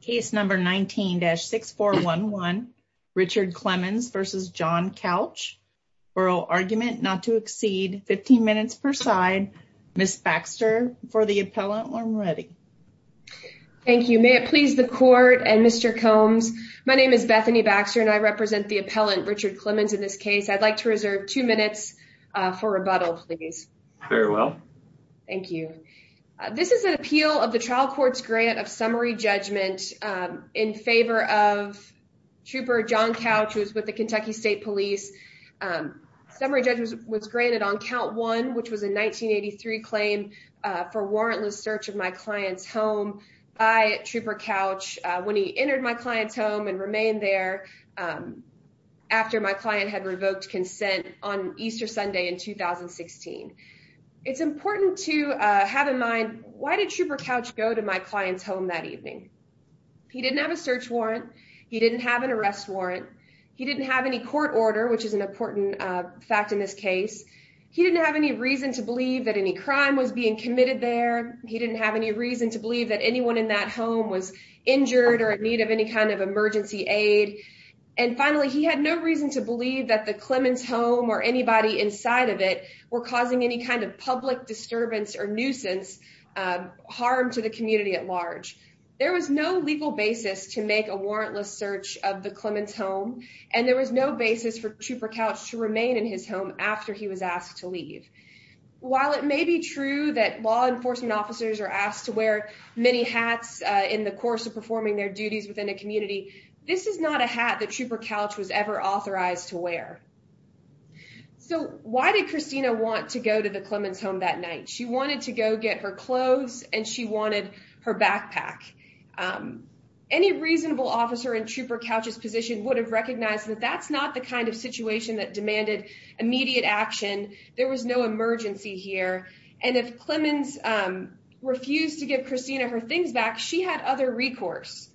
case number 19-6411 Richard Clemons v. John Couch oral argument not to exceed 15 minutes per side Ms. Baxter for the appellant when ready. Thank you may it please the court and Mr. Combs my name is Bethany Baxter and I represent the appellant Richard Clemons in this case. I'd like to reserve two minutes for rebuttal please. Very well. Thank you. This is an appeal of the trial court's grant of summary judgment in favor of trooper John Couch who's with the Kentucky State Police. Summary judgment was granted on count one which was a 1983 claim for warrantless search of my client's home by trooper Couch when he entered my client's home and remained there after my client had revoked consent on Easter Sunday in 2016. It's important to have in mind why did trooper Couch go to my client's home that evening. He didn't have a search warrant. He didn't have an arrest warrant. He didn't have any court order which is an important fact in this case. He didn't have any reason to believe that any crime was being committed there. He didn't have any reason to believe that anyone in that home was injured or in need of any kind of emergency aid and finally he had no reason to believe that the Clemons home or anybody inside of it were causing any kind of public disturbance or nuisance harm to the community at large. There was no legal basis to make a warrantless search of the Clemons home and there was no basis for trooper Couch to remain in his home after he was asked to leave. While it may be true that law enforcement officers are asked to wear many hats in the course of performing their duties within a community So why did Christina want to go to the Clemons home that night? She wanted to go get her clothes and she wanted her backpack. Any reasonable officer in trooper Couch's position would have recognized that that's not the kind of situation that demanded immediate action. There was no emergency here and if Clemons refused to give Christina her things back she had other recourse.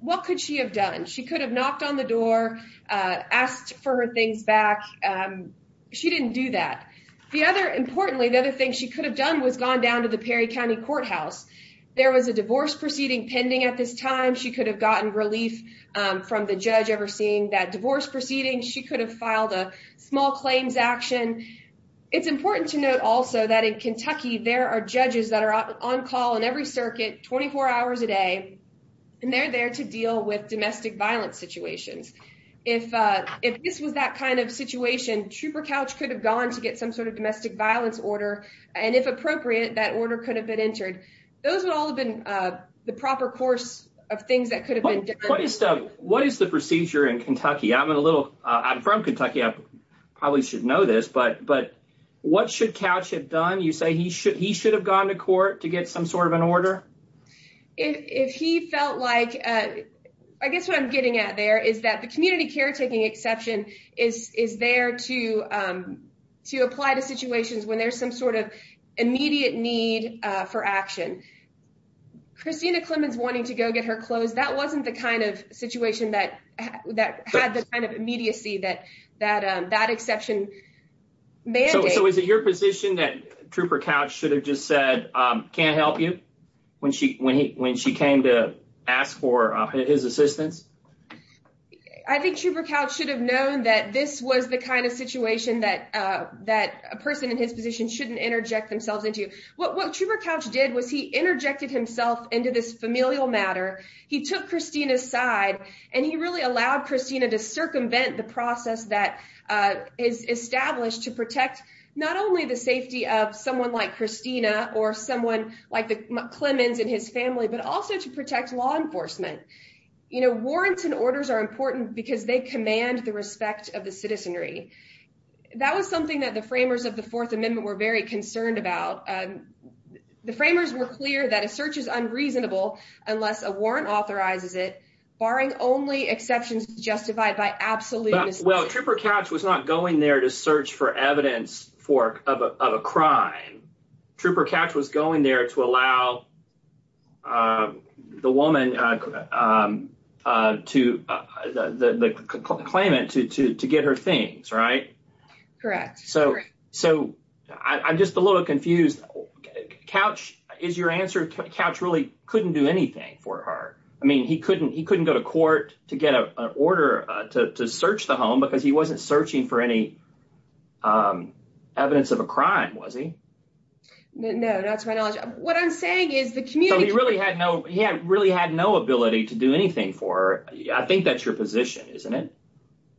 What could she have done? She could have knocked on the door, asked for her things back. She didn't do that. Importantly the other thing she could have done was gone down to the Perry County Courthouse. There was a divorce proceeding pending at this time. She could have gotten relief from the judge overseeing that divorce proceeding. She could have filed a small claims action. It's important to note also that in Kentucky there are judges that are on call in every circuit 24 hours a day and they're there to deal with domestic violence situations. If this was that kind of situation trooper Couch could have gone to get some sort of domestic violence order and if appropriate that order could have been entered. Those would all have been the proper course of things that could have been done. What is the procedure in Kentucky? I'm a little, I'm from Kentucky, I probably should know this, but what should Couch have done? You say he should have gone to court to get some sort of an order? If he felt like, I guess what I'm getting at there is that the community caretaking exception is there to apply to situations when there's some sort of immediate need for action. Christina Clemons wanting to go get her clothes, that wasn't the kind of situation that had the kind of immediacy that that exception mandated. So is it your position that trooper Couch should have just said can't help you when she came to ask for his assistance? I think trooper Couch should have known that this was the kind of situation that a person in his position shouldn't interject themselves into. What trooper Couch did was he interjected himself into this familial matter. He took Christina's side and he really allowed Christina to circumvent the process that is established to protect not only the safety of someone like Christina or someone like the Clemons and his family, but also to protect law enforcement. You know, warrants and orders are important because they command the respect of the citizenry. That was something that the framers of the fourth amendment were very concerned about. The framers were clear that a search is unreasonable unless a warrant authorizes it, barring only exceptions justified by absolute... Well, trooper Couch was not going there to search for evidence of a crime. Trooper Couch was going there to allow the woman, the claimant, to get her things, right? Correct. So I'm just a little confused. Couch, is your answer Couch really couldn't do anything for her? I mean, he couldn't go to court to get an order to search the home because he wasn't searching for any evidence of a crime, was he? No, not to my knowledge. What I'm saying is the community... So he really had no ability to do anything for her. I think that's your position, isn't it?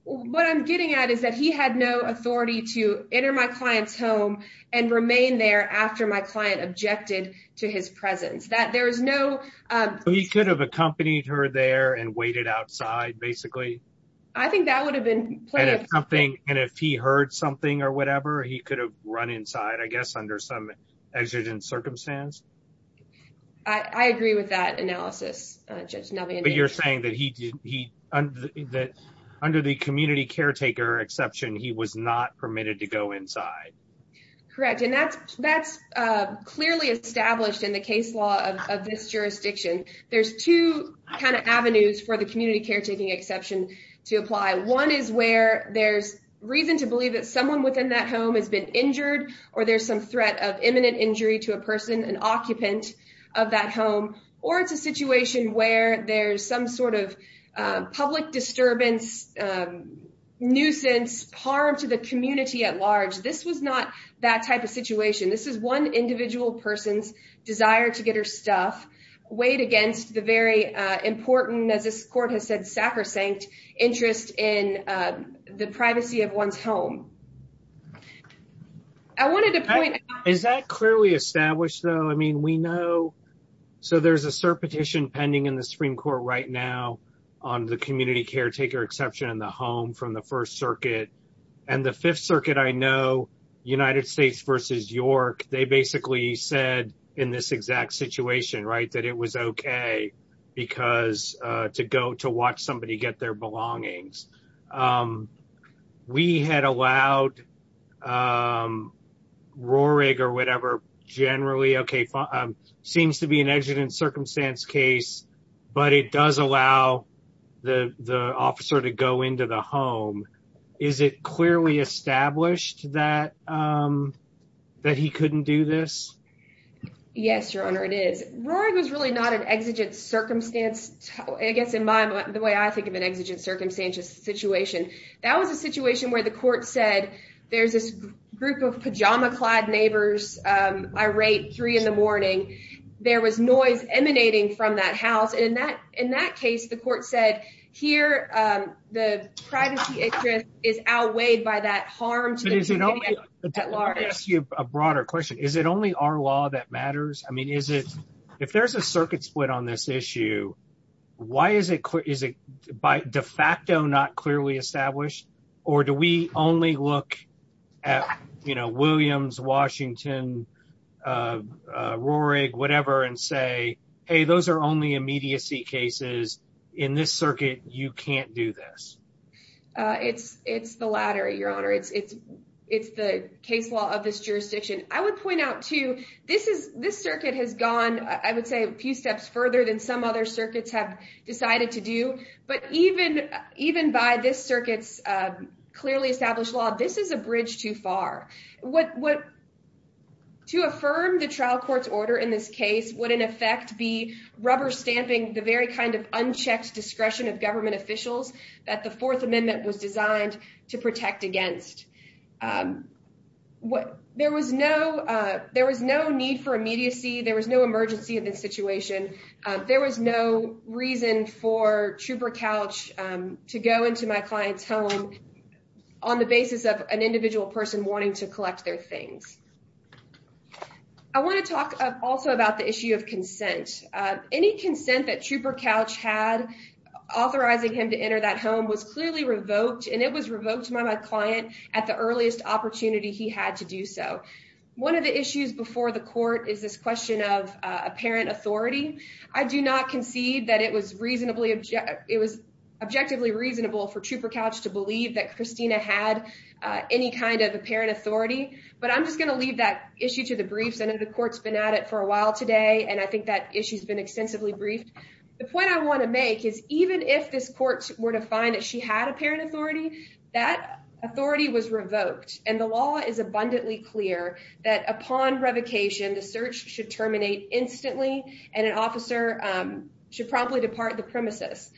What I'm getting at is that he had no authority to enter my client's home and remain there after my client objected to his presence. There was no... He could have accompanied her there and waited outside, basically? I think that would have been... And if he heard something or whatever, he could have run inside, I guess, under some exigent circumstance? I agree with that analysis, Judge Navian. But you're saying that under the community caretaker exception, he was not permitted to go inside? Correct. And that's clearly established in the case law of this jurisdiction. There's two kind of avenues for the community caretaking exception to apply. One is where there's reason to believe that someone within that home has been injured or there's some threat of imminent injury to a person, an occupant of that home, or it's a situation where there's some sort of public disturbance, nuisance, harm to the community at large. This was not that type of situation. This is one individual person's desire to get her stuff weighed against the very important, as this court has said, sacrosanct interest in the privacy of one's home. I wanted to point... Is that clearly established, though? I mean, we know... So there's a cert petition pending in the Supreme Court right now on the community caretaker exception in the home from the First Circuit. And the Fifth Circuit, I know, United States versus York, they basically said in this exact situation, right, that it was okay to go to watch somebody get their belongings. We had allowed... Roehrig or whatever, generally, okay, seems to be an exigent circumstance case, but it does allow the officer to go into the home. Is it clearly established that he couldn't do this? Yes, Your Honor, it is. Roehrig was really not an exigent circumstance, I guess, in the way I think of an exigent circumstance situation. That was a situation where the court said, there's this group of pajama-clad neighbors, irate, three in the morning. There was noise emanating from that house. And in that case, the court said, here, the privacy interest is outweighed by that harm to the community at large. Let me ask you a broader question. Is it only our law that matters? I mean, if there's a circuit split on this issue, why is it by de facto not clearly established? Or do we only look at Williams, Washington, Roehrig, whatever, and say, hey, those are only immediacy cases. In this circuit, you can't do this. It's the latter, Your Honor. It's the case law of this jurisdiction. I would point out too, this circuit has gone, I would say, a few steps further than some other circuits have decided to do. But even by this circuit's clearly established law, this is a bridge too far. To affirm the trial court's order in this case would, in effect, be rubber stamping the very kind of unchecked discretion of government officials that the Fourth Amendment was designed to protect against. There was no need for immediacy. There was no emergency in this situation. There was no reason for Trooper Couch to go into my client's home on the basis of an individual person wanting to collect their things. I want to talk also about the issue of consent. Any consent that Trooper Couch had authorizing him to enter that home was clearly revoked, and it was revoked by my client at the earliest opportunity he had to do so. One of the issues before the court is this question of apparent authority. I do not concede that it was objectively reasonable for Trooper Couch to believe that Christina had any kind of apparent authority, but I'm just going to leave that issue to the briefs. I know the court's been at it for a while today, and I think that issue's been extensively briefed. The point I want to make is even if this court were to find that she had apparent authority, that authority was revoked, and the law is abundantly clear that upon revocation, the search should terminate instantly, and an officer should promptly depart the premises.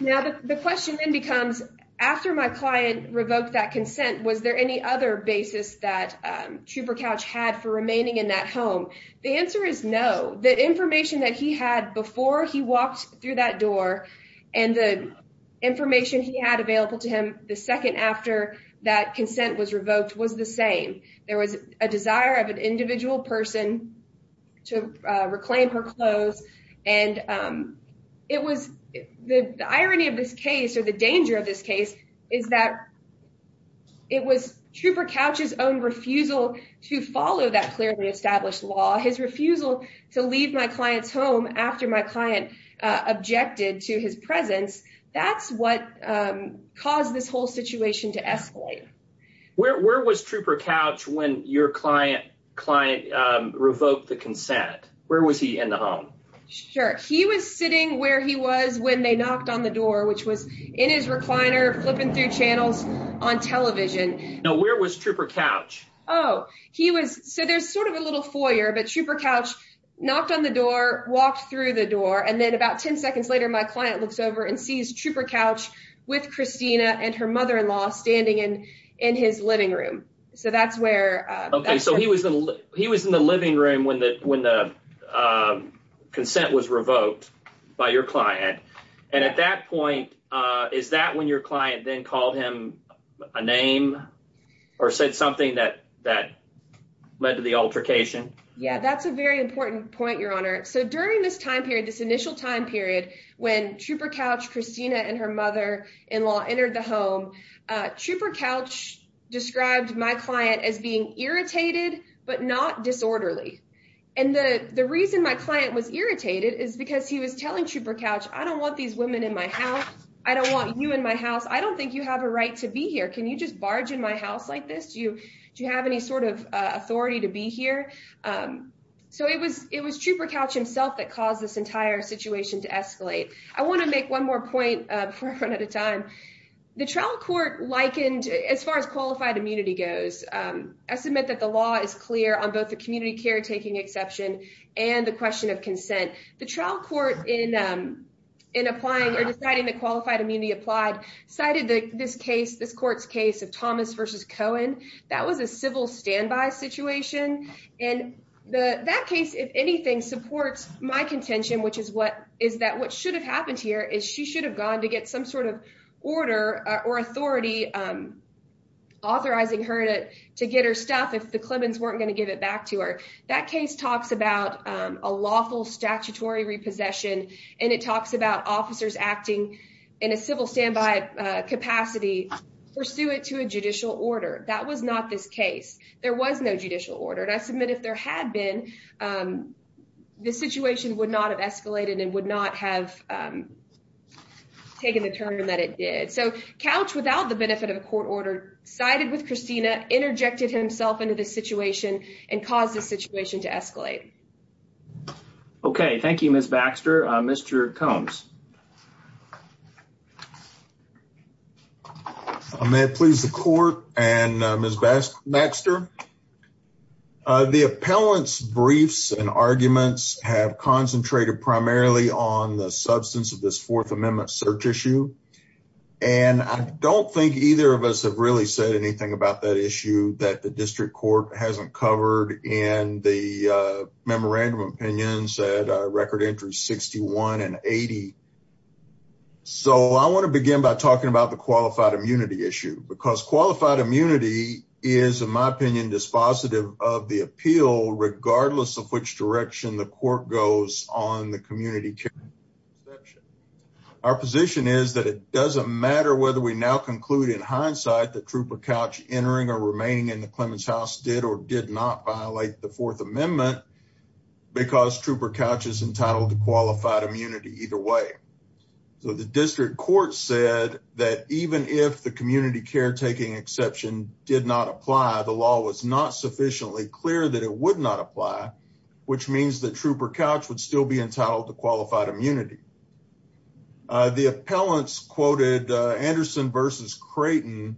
Now, the question then becomes, after my client revoked that consent, was there any other basis that Trooper Couch had for remaining in that home? The answer is no. The information that he had before he walked through that door and the information he had available to him the second after that consent was revoked was the same. There was a desire of an individual person to reclaim her clothes, and the irony of this case or the danger of this case is that it was Trooper Couch's own refusal to follow that clearly his presence. That's what caused this whole situation to escalate. Where was Trooper Couch when your client revoked the consent? Where was he in the home? Sure. He was sitting where he was when they knocked on the door, which was in his recliner flipping through channels on television. Now, where was Trooper Couch? Oh. So there's sort of a little foyer, but Trooper Couch knocked on the door, walked through the door, and then about 10 seconds later, my client looks over and sees Trooper Couch with Christina and her mother-in-law standing in his living room. So that's where... Okay. So he was in the living room when the consent was revoked by your client, and at that point, is that when your client then called him a name or said something that led to the altercation? Yeah. That's a very important point, Your Honor. So during this time period, this initial time period when Trooper Couch, Christina, and her mother-in-law entered the home, Trooper Couch described my client as being irritated, but not disorderly. And the reason my client was irritated is because he was telling Trooper Couch, I don't want these women in my house. I don't want you in my house. I don't think you have a right to be here. Can you just barge in my house like this? Do you have any sort of So it was Trooper Couch himself that caused this entire situation to escalate. I want to make one more point before I run out of time. The trial court likened... As far as qualified immunity goes, I submit that the law is clear on both the community caretaking exception and the question of consent. The trial court in deciding the qualified immunity applied cited this court's case of Thomas versus Cohen. That was a civil standby situation. And that case, if anything, supports my contention, which is that what should have happened here is she should have gone to get some sort of order or authority, authorizing her to get her stuff if the Clemons weren't going to give it back to her. That case talks about a lawful statutory repossession, and it talks about officers acting in a civil standby capacity pursuant to a judicial order. That was not this case. There was no judicial order, and I submit if there had been, the situation would not have escalated and would not have taken the turn that it did. So Couch, without the benefit of a court order, sided with Christina, interjected himself into the situation and caused the situation to escalate. Okay. Thank you, Ms. Baxter. Mr. Combs. May it please the court and Ms. Baxter. The appellant's briefs and arguments have concentrated primarily on the substance of this Fourth Amendment search issue. And I don't think either of us have really said anything about that issue that the district court hasn't covered in the memorandum of opinions at record entries 61 and 80. So I want to begin by talking about the qualified immunity issue, because qualified immunity is, in my opinion, dispositive of the appeal, regardless of which direction the court goes on the community care section. Our position is that it doesn't matter whether we now conclude in hindsight that Trooper Couch entering or remaining in the Clemens House did or did not violate the Fourth Amendment, because Trooper Couch is entitled to qualified immunity either way. So the district court said that even if the community caretaking exception did not apply, the law was not sufficiently clear that it would not apply, which means that Trooper Couch would be entitled to qualified immunity. The appellants quoted Anderson versus Creighton,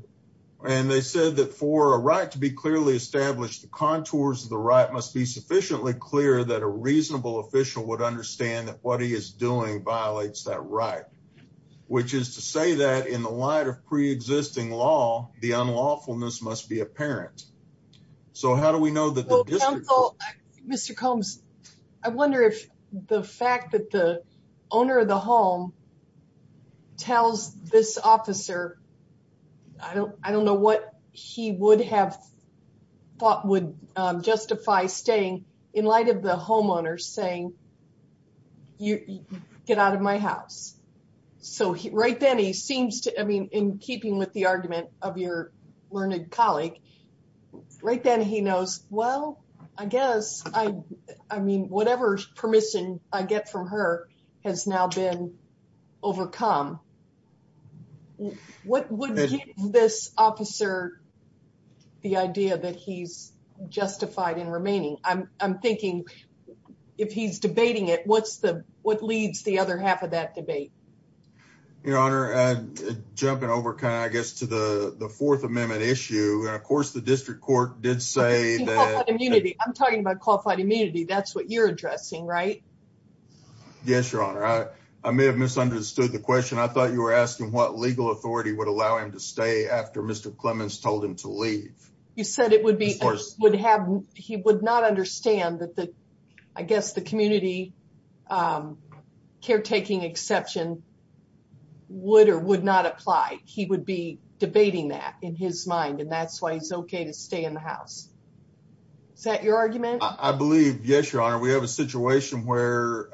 and they said that for a right to be clearly established, the contours of the right must be sufficiently clear that a reasonable official would understand that what he is doing violates that right, which is to say that in the light of pre-existing law, the unlawfulness must be the fact that the owner of the home tells this officer, I don't know what he would have thought would justify staying in light of the homeowner saying, get out of my house. So right then, he seems to, I mean, in keeping with the argument of your learned colleague, right then he knows, well, I guess, I mean, whatever permission I get from her has now been overcome. What would give this officer the idea that he's justified in remaining? I'm thinking if he's debating it, what leads the other half of that debate? Your honor, jumping over kind of, I guess, to the fourth amendment issue. And of course, the district court did say that. I'm talking about qualified immunity. That's what you're addressing, right? Yes, your honor. I may have misunderstood the question. I thought you were asking what legal authority would allow him to stay after Mr. Clemens told him to leave. You said it would be, he would not understand that the, I guess, the community caretaking exception would or would not apply. He would be debating that in his mind and that's why he's okay to stay in the house. Is that your argument? I believe, yes, your honor. We have a situation where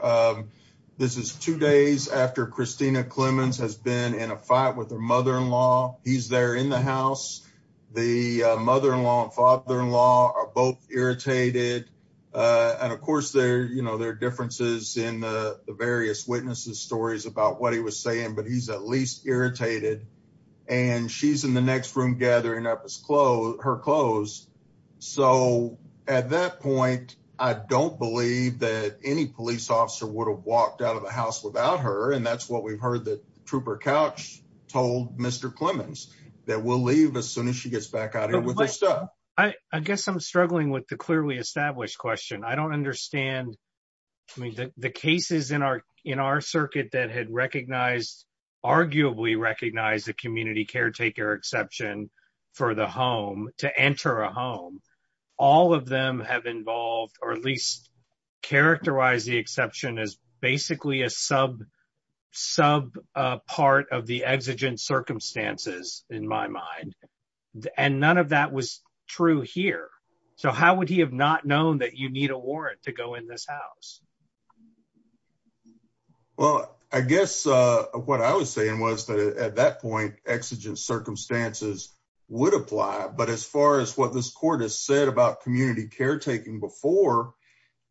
this is two days after Christina Clemens has been in a fight with her mother-in-law. He's there in the house. The mother-in-law and father-in-law are both irritated. And of course, there are differences in the various witnesses' stories about what he was saying, but he's at least irritated. And she's in the next room gathering up her clothes. So at that point, I don't believe that any police officer would have walked out of the house without her. And that's what we've heard that Trooper Couch told Mr. Clemens, that we'll leave as soon as she gets back out here with her stuff. I guess I'm struggling with the clearly established question. I don't understand. I mean, the cases in our circuit that had arguably recognized a community caretaker exception for the home, to enter a home, all of them have involved or at least characterized the exception as basically a sub part of the exigent circumstances in my mind. And none of that was true here. So how would he have not known that you need a warrant to go in this house? Well, I guess what I was saying was that at that point, exigent circumstances would apply. But as far as what this court has said about community caretaking before,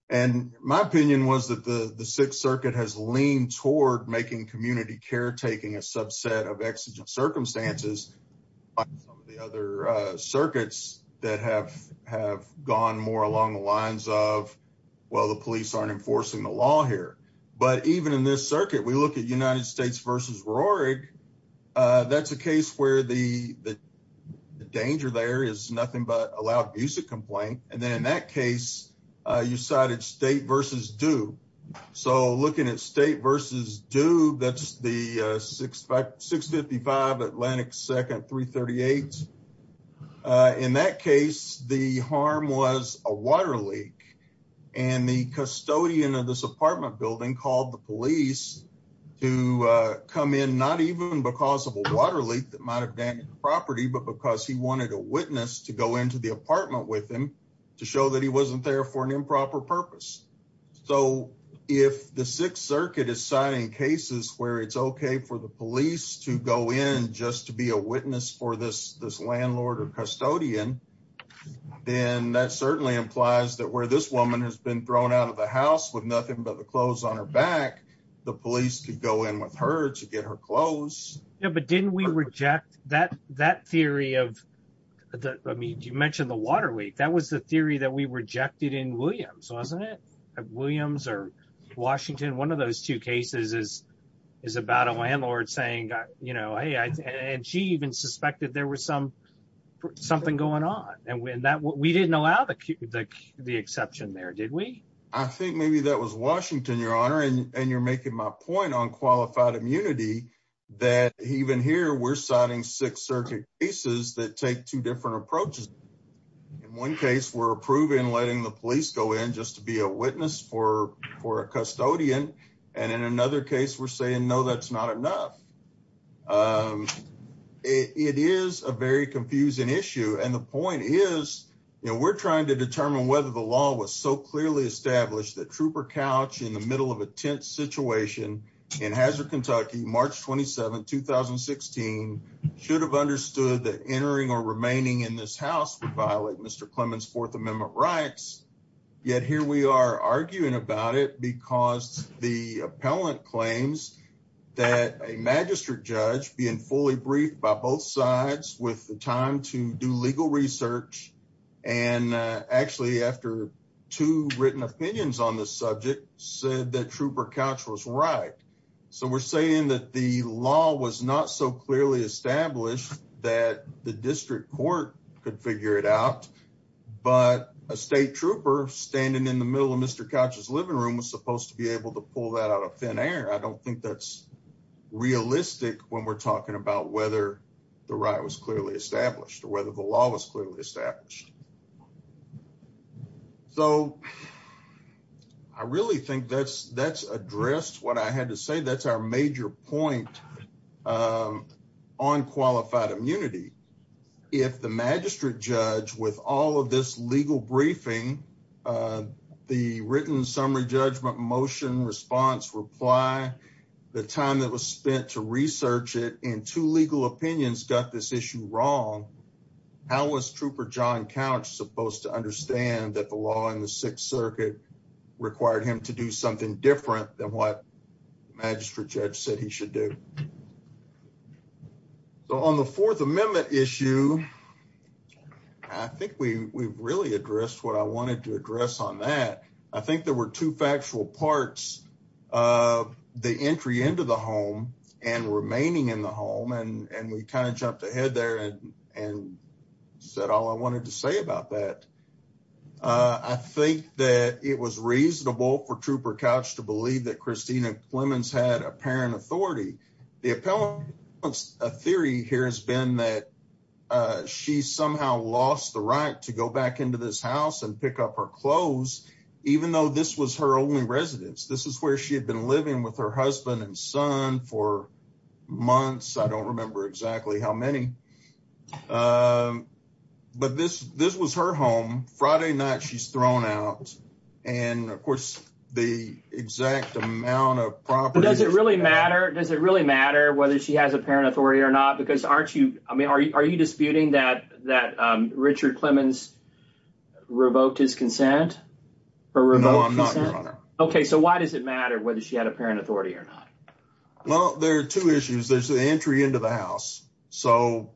and my opinion was that the Sixth Circuit has leaned toward making community caretaking a the other circuits that have gone more along the lines of, well, the police aren't enforcing the law here. But even in this circuit, we look at United States versus Roehrig. That's a case where the danger there is nothing but a loud music complaint. And then in that case, you cited State versus Dew. So looking at State versus Dew, that's the 655 Atlantic 2nd 338. In that case, the harm was a water leak. And the custodian of this apartment building called the police to come in, not even because of a water leak that might have damaged the property, but because he wanted a witness to go into the apartment with him to show that he wasn't there for an improper purpose. So if the Sixth Circuit is signing cases where it's okay for the police to go in just to be a witness for this, this landlord or custodian, then that certainly implies that where this woman has been thrown out of the house with nothing but the clothes on her back, the police could go in with her to get her clothes. Yeah, but didn't we reject that that theory of the, I mean, you mentioned the water leak, that was the theory that we rejected in Williams, wasn't it? Williams or Washington, one of those two cases is, is about a landlord saying, you know, hey, and she even suspected there was some something going on. And when that we didn't allow the the exception there, did we? I think maybe that was Washington, Your Honor. And you're that take two different approaches. In one case, we're approving letting the police go in just to be a witness for for a custodian. And in another case, we're saying no, that's not enough. It is a very confusing issue. And the point is, you know, we're trying to determine whether the law was so clearly established that trooper couch in the middle of a tense situation in Hazard, Kentucky, March 27 2016, should have understood that entering or remaining in this house would violate Mr. Clemens Fourth Amendment rights. Yet here we are arguing about it because the appellant claims that a magistrate judge being fully briefed by both sides with the time to do legal research. And actually, after two written opinions on this subject said that trooper couch was right. So we're saying that the law was not so clearly established that the district court could figure it out. But a state trooper standing in the middle of Mr. couch's living room was supposed to be able to pull that out of thin air. I don't think that's realistic when we're talking about whether the right was clearly established or whether the law was clearly established. So I really think that's that's addressed what I had to say. That's our major point on qualified immunity. If the magistrate judge with all of this legal briefing, the written summary judgment motion response reply, the time that was spent to research it in two legal opinions got this issue wrong. How was trooper john couch supposed to understand that the law in the Sixth Circuit required him to do something different than what magistrate judge said he should do. So on the Fourth Amendment issue, I think we really addressed what I wanted to address on that. I think there were two factual parts of the entry into the home and remaining in the home. And we kind of jumped ahead there and said all I wanted to say about that. I think that it was reasonable for trooper couch to believe that Christina Clemens had apparent authority. The appellate theory here has been that she somehow lost the right to go back into this house and pick up her clothes, even though this was her only residence. This is where she had been living with her husband and son for months. I don't remember exactly how many. But this this was her home Friday night she's thrown out. And of course, the exact amount of property does it really matter? Does it really matter whether she has apparent authority or not? Because aren't you I mean, are you are you disputing that that Richard Clemens revoked his consent? No, I'm not. OK, so why does it matter whether she had apparent authority or not? Well, there are two issues. There's the entry into the house. So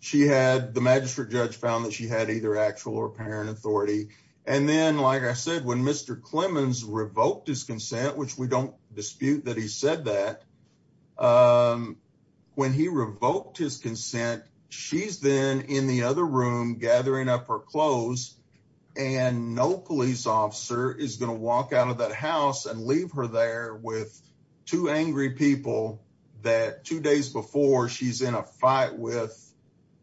she had the magistrate judge found that she had either actual or apparent authority. And then, like I said, when Mr. Clemens revoked his consent, which we don't dispute that he said that when he revoked his consent, she's then in the other room gathering up her clothes. And no police officer is going to walk out of that house and leave her there with two angry people that two days before she's in a fight with.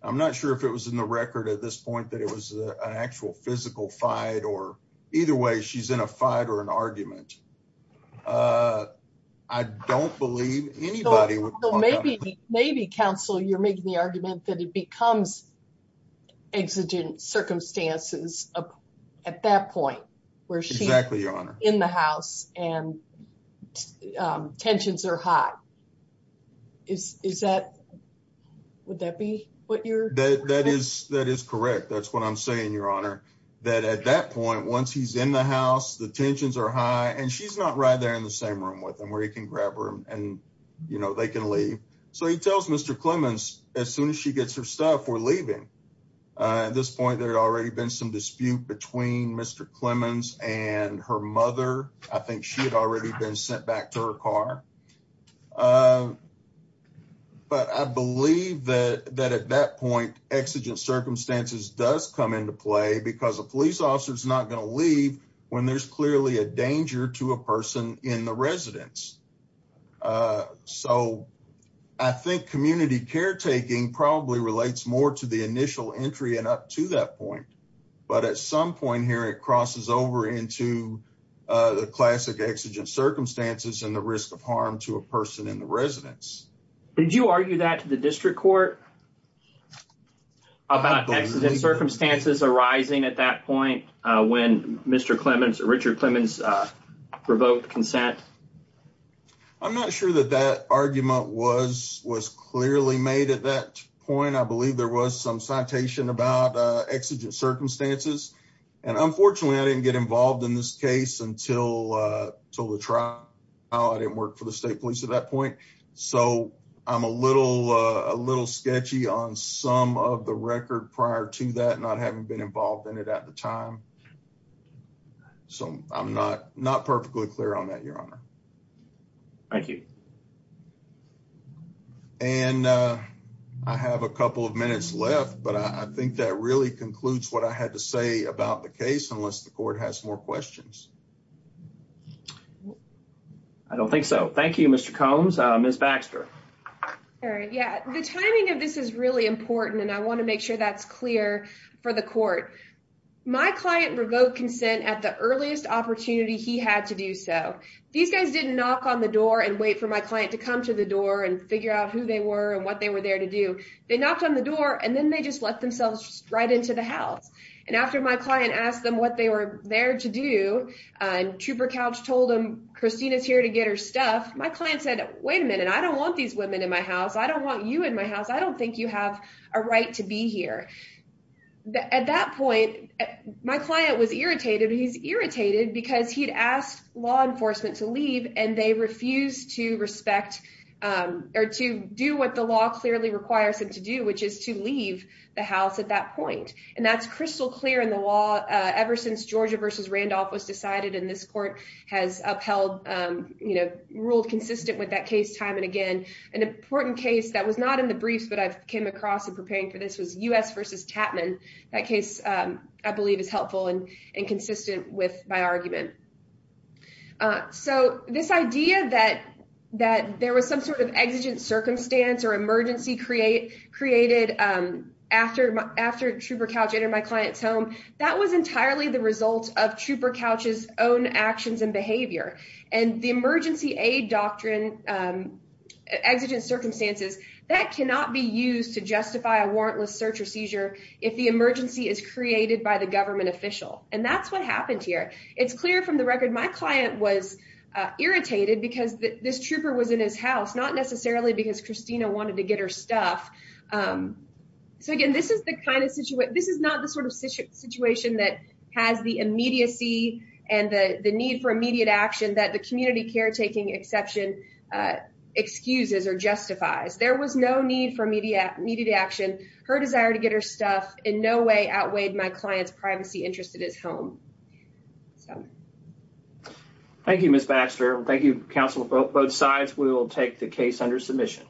I'm not sure if it was in the record at this point that it was an actual physical fight or either way she's in a fight or an argument. I don't believe anybody would maybe maybe counsel you're making the argument that it becomes exigent circumstances at that point where she's in the house and tensions are high. Is is that would that be what you're that that is that is correct. That's what I'm saying, Your Honor, that at that point, once he's in the house, the tensions are high and she's not right there in the same room with him where he can grab her and they can leave. So he tells Mr. Clemens as soon as she gets her stuff, we're leaving. At this point, there had already been some dispute between Mr. Clemens and her mother. I think she had already been sent back to her car. But I believe that that at that point, exigent circumstances does come into play because a police officer is not going to leave when there's clearly a danger to a person in the residence. So I think community caretaking probably relates more to the initial entry and up to that point. But at some point here, it crosses over into the classic exigent circumstances and the risk of harm to a person in the residence. Did you argue that to the district court about exigent circumstances arising at that point when Mr. Clemens or Richard Clemens revoked consent? I'm not sure that that argument was was clearly made at that point. I believe there was some citation about exigent circumstances. And unfortunately, I didn't get involved in this case until the trial. I didn't work for the state police at that point. So I'm a little sketchy on some of the record prior to that, not having been involved in it at the time. So I'm not perfectly clear on that, Your Honor. Thank you. And I have a couple of minutes left, but I think that really concludes what I had to say about the case, unless the court has more questions. I don't think so. Thank you, Mr. Combs. Ms. Baxter. All right. Yeah. The timing of this is really important, and I want to make sure that's clear for the court. My client revoked consent at the earliest opportunity he had to do so. These guys didn't knock on the door and wait for my client to come to the door and figure out who they were and what they were there to do. They knocked on the door and then they just let themselves right into the house. And after my client asked them what they were there to do, and Trooper Couch told them, Christina's here to get her stuff. My client said, wait a minute. I don't want these women in my house. I don't want you in my house. I don't think you have a right to be here. At that point, my client was irritated. He's irritated because he'd asked law enforcement to leave, and they refused to respect or to do what the law clearly requires them to do, which is to leave the house at that point. And that's crystal clear in the law ever since Georgia versus Randolph was decided, and this court has upheld, ruled consistent with that case time and again. An important case that was not in the briefs, but I've came across in preparing for this was U.S. versus Chapman. That case, I believe, is helpful and consistent with my argument. So this idea that there was some sort of exigent circumstance or emergency created after Trooper Couch entered my client's home, that was entirely the result of Trooper Couch's own actions and behavior. And the emergency aid doctrine, exigent circumstances, that cannot be used to justify a warrantless search or seizure if the emergency is created by the government official. And that's what happened here. It's clear from the record my client was irritated because this trooper was in his house, not necessarily because Christina wanted to get her stuff. So again, this is not the sort of situation that has the immediacy and the need for immediate action that the community caretaking exception excuses or justifies. There was no need for immediate action. Her desire to get her stuff in no way outweighed my client's privacy interest at his home. Thank you, Ms. Baxter. Thank you, counsel. Both sides will take the case under submission.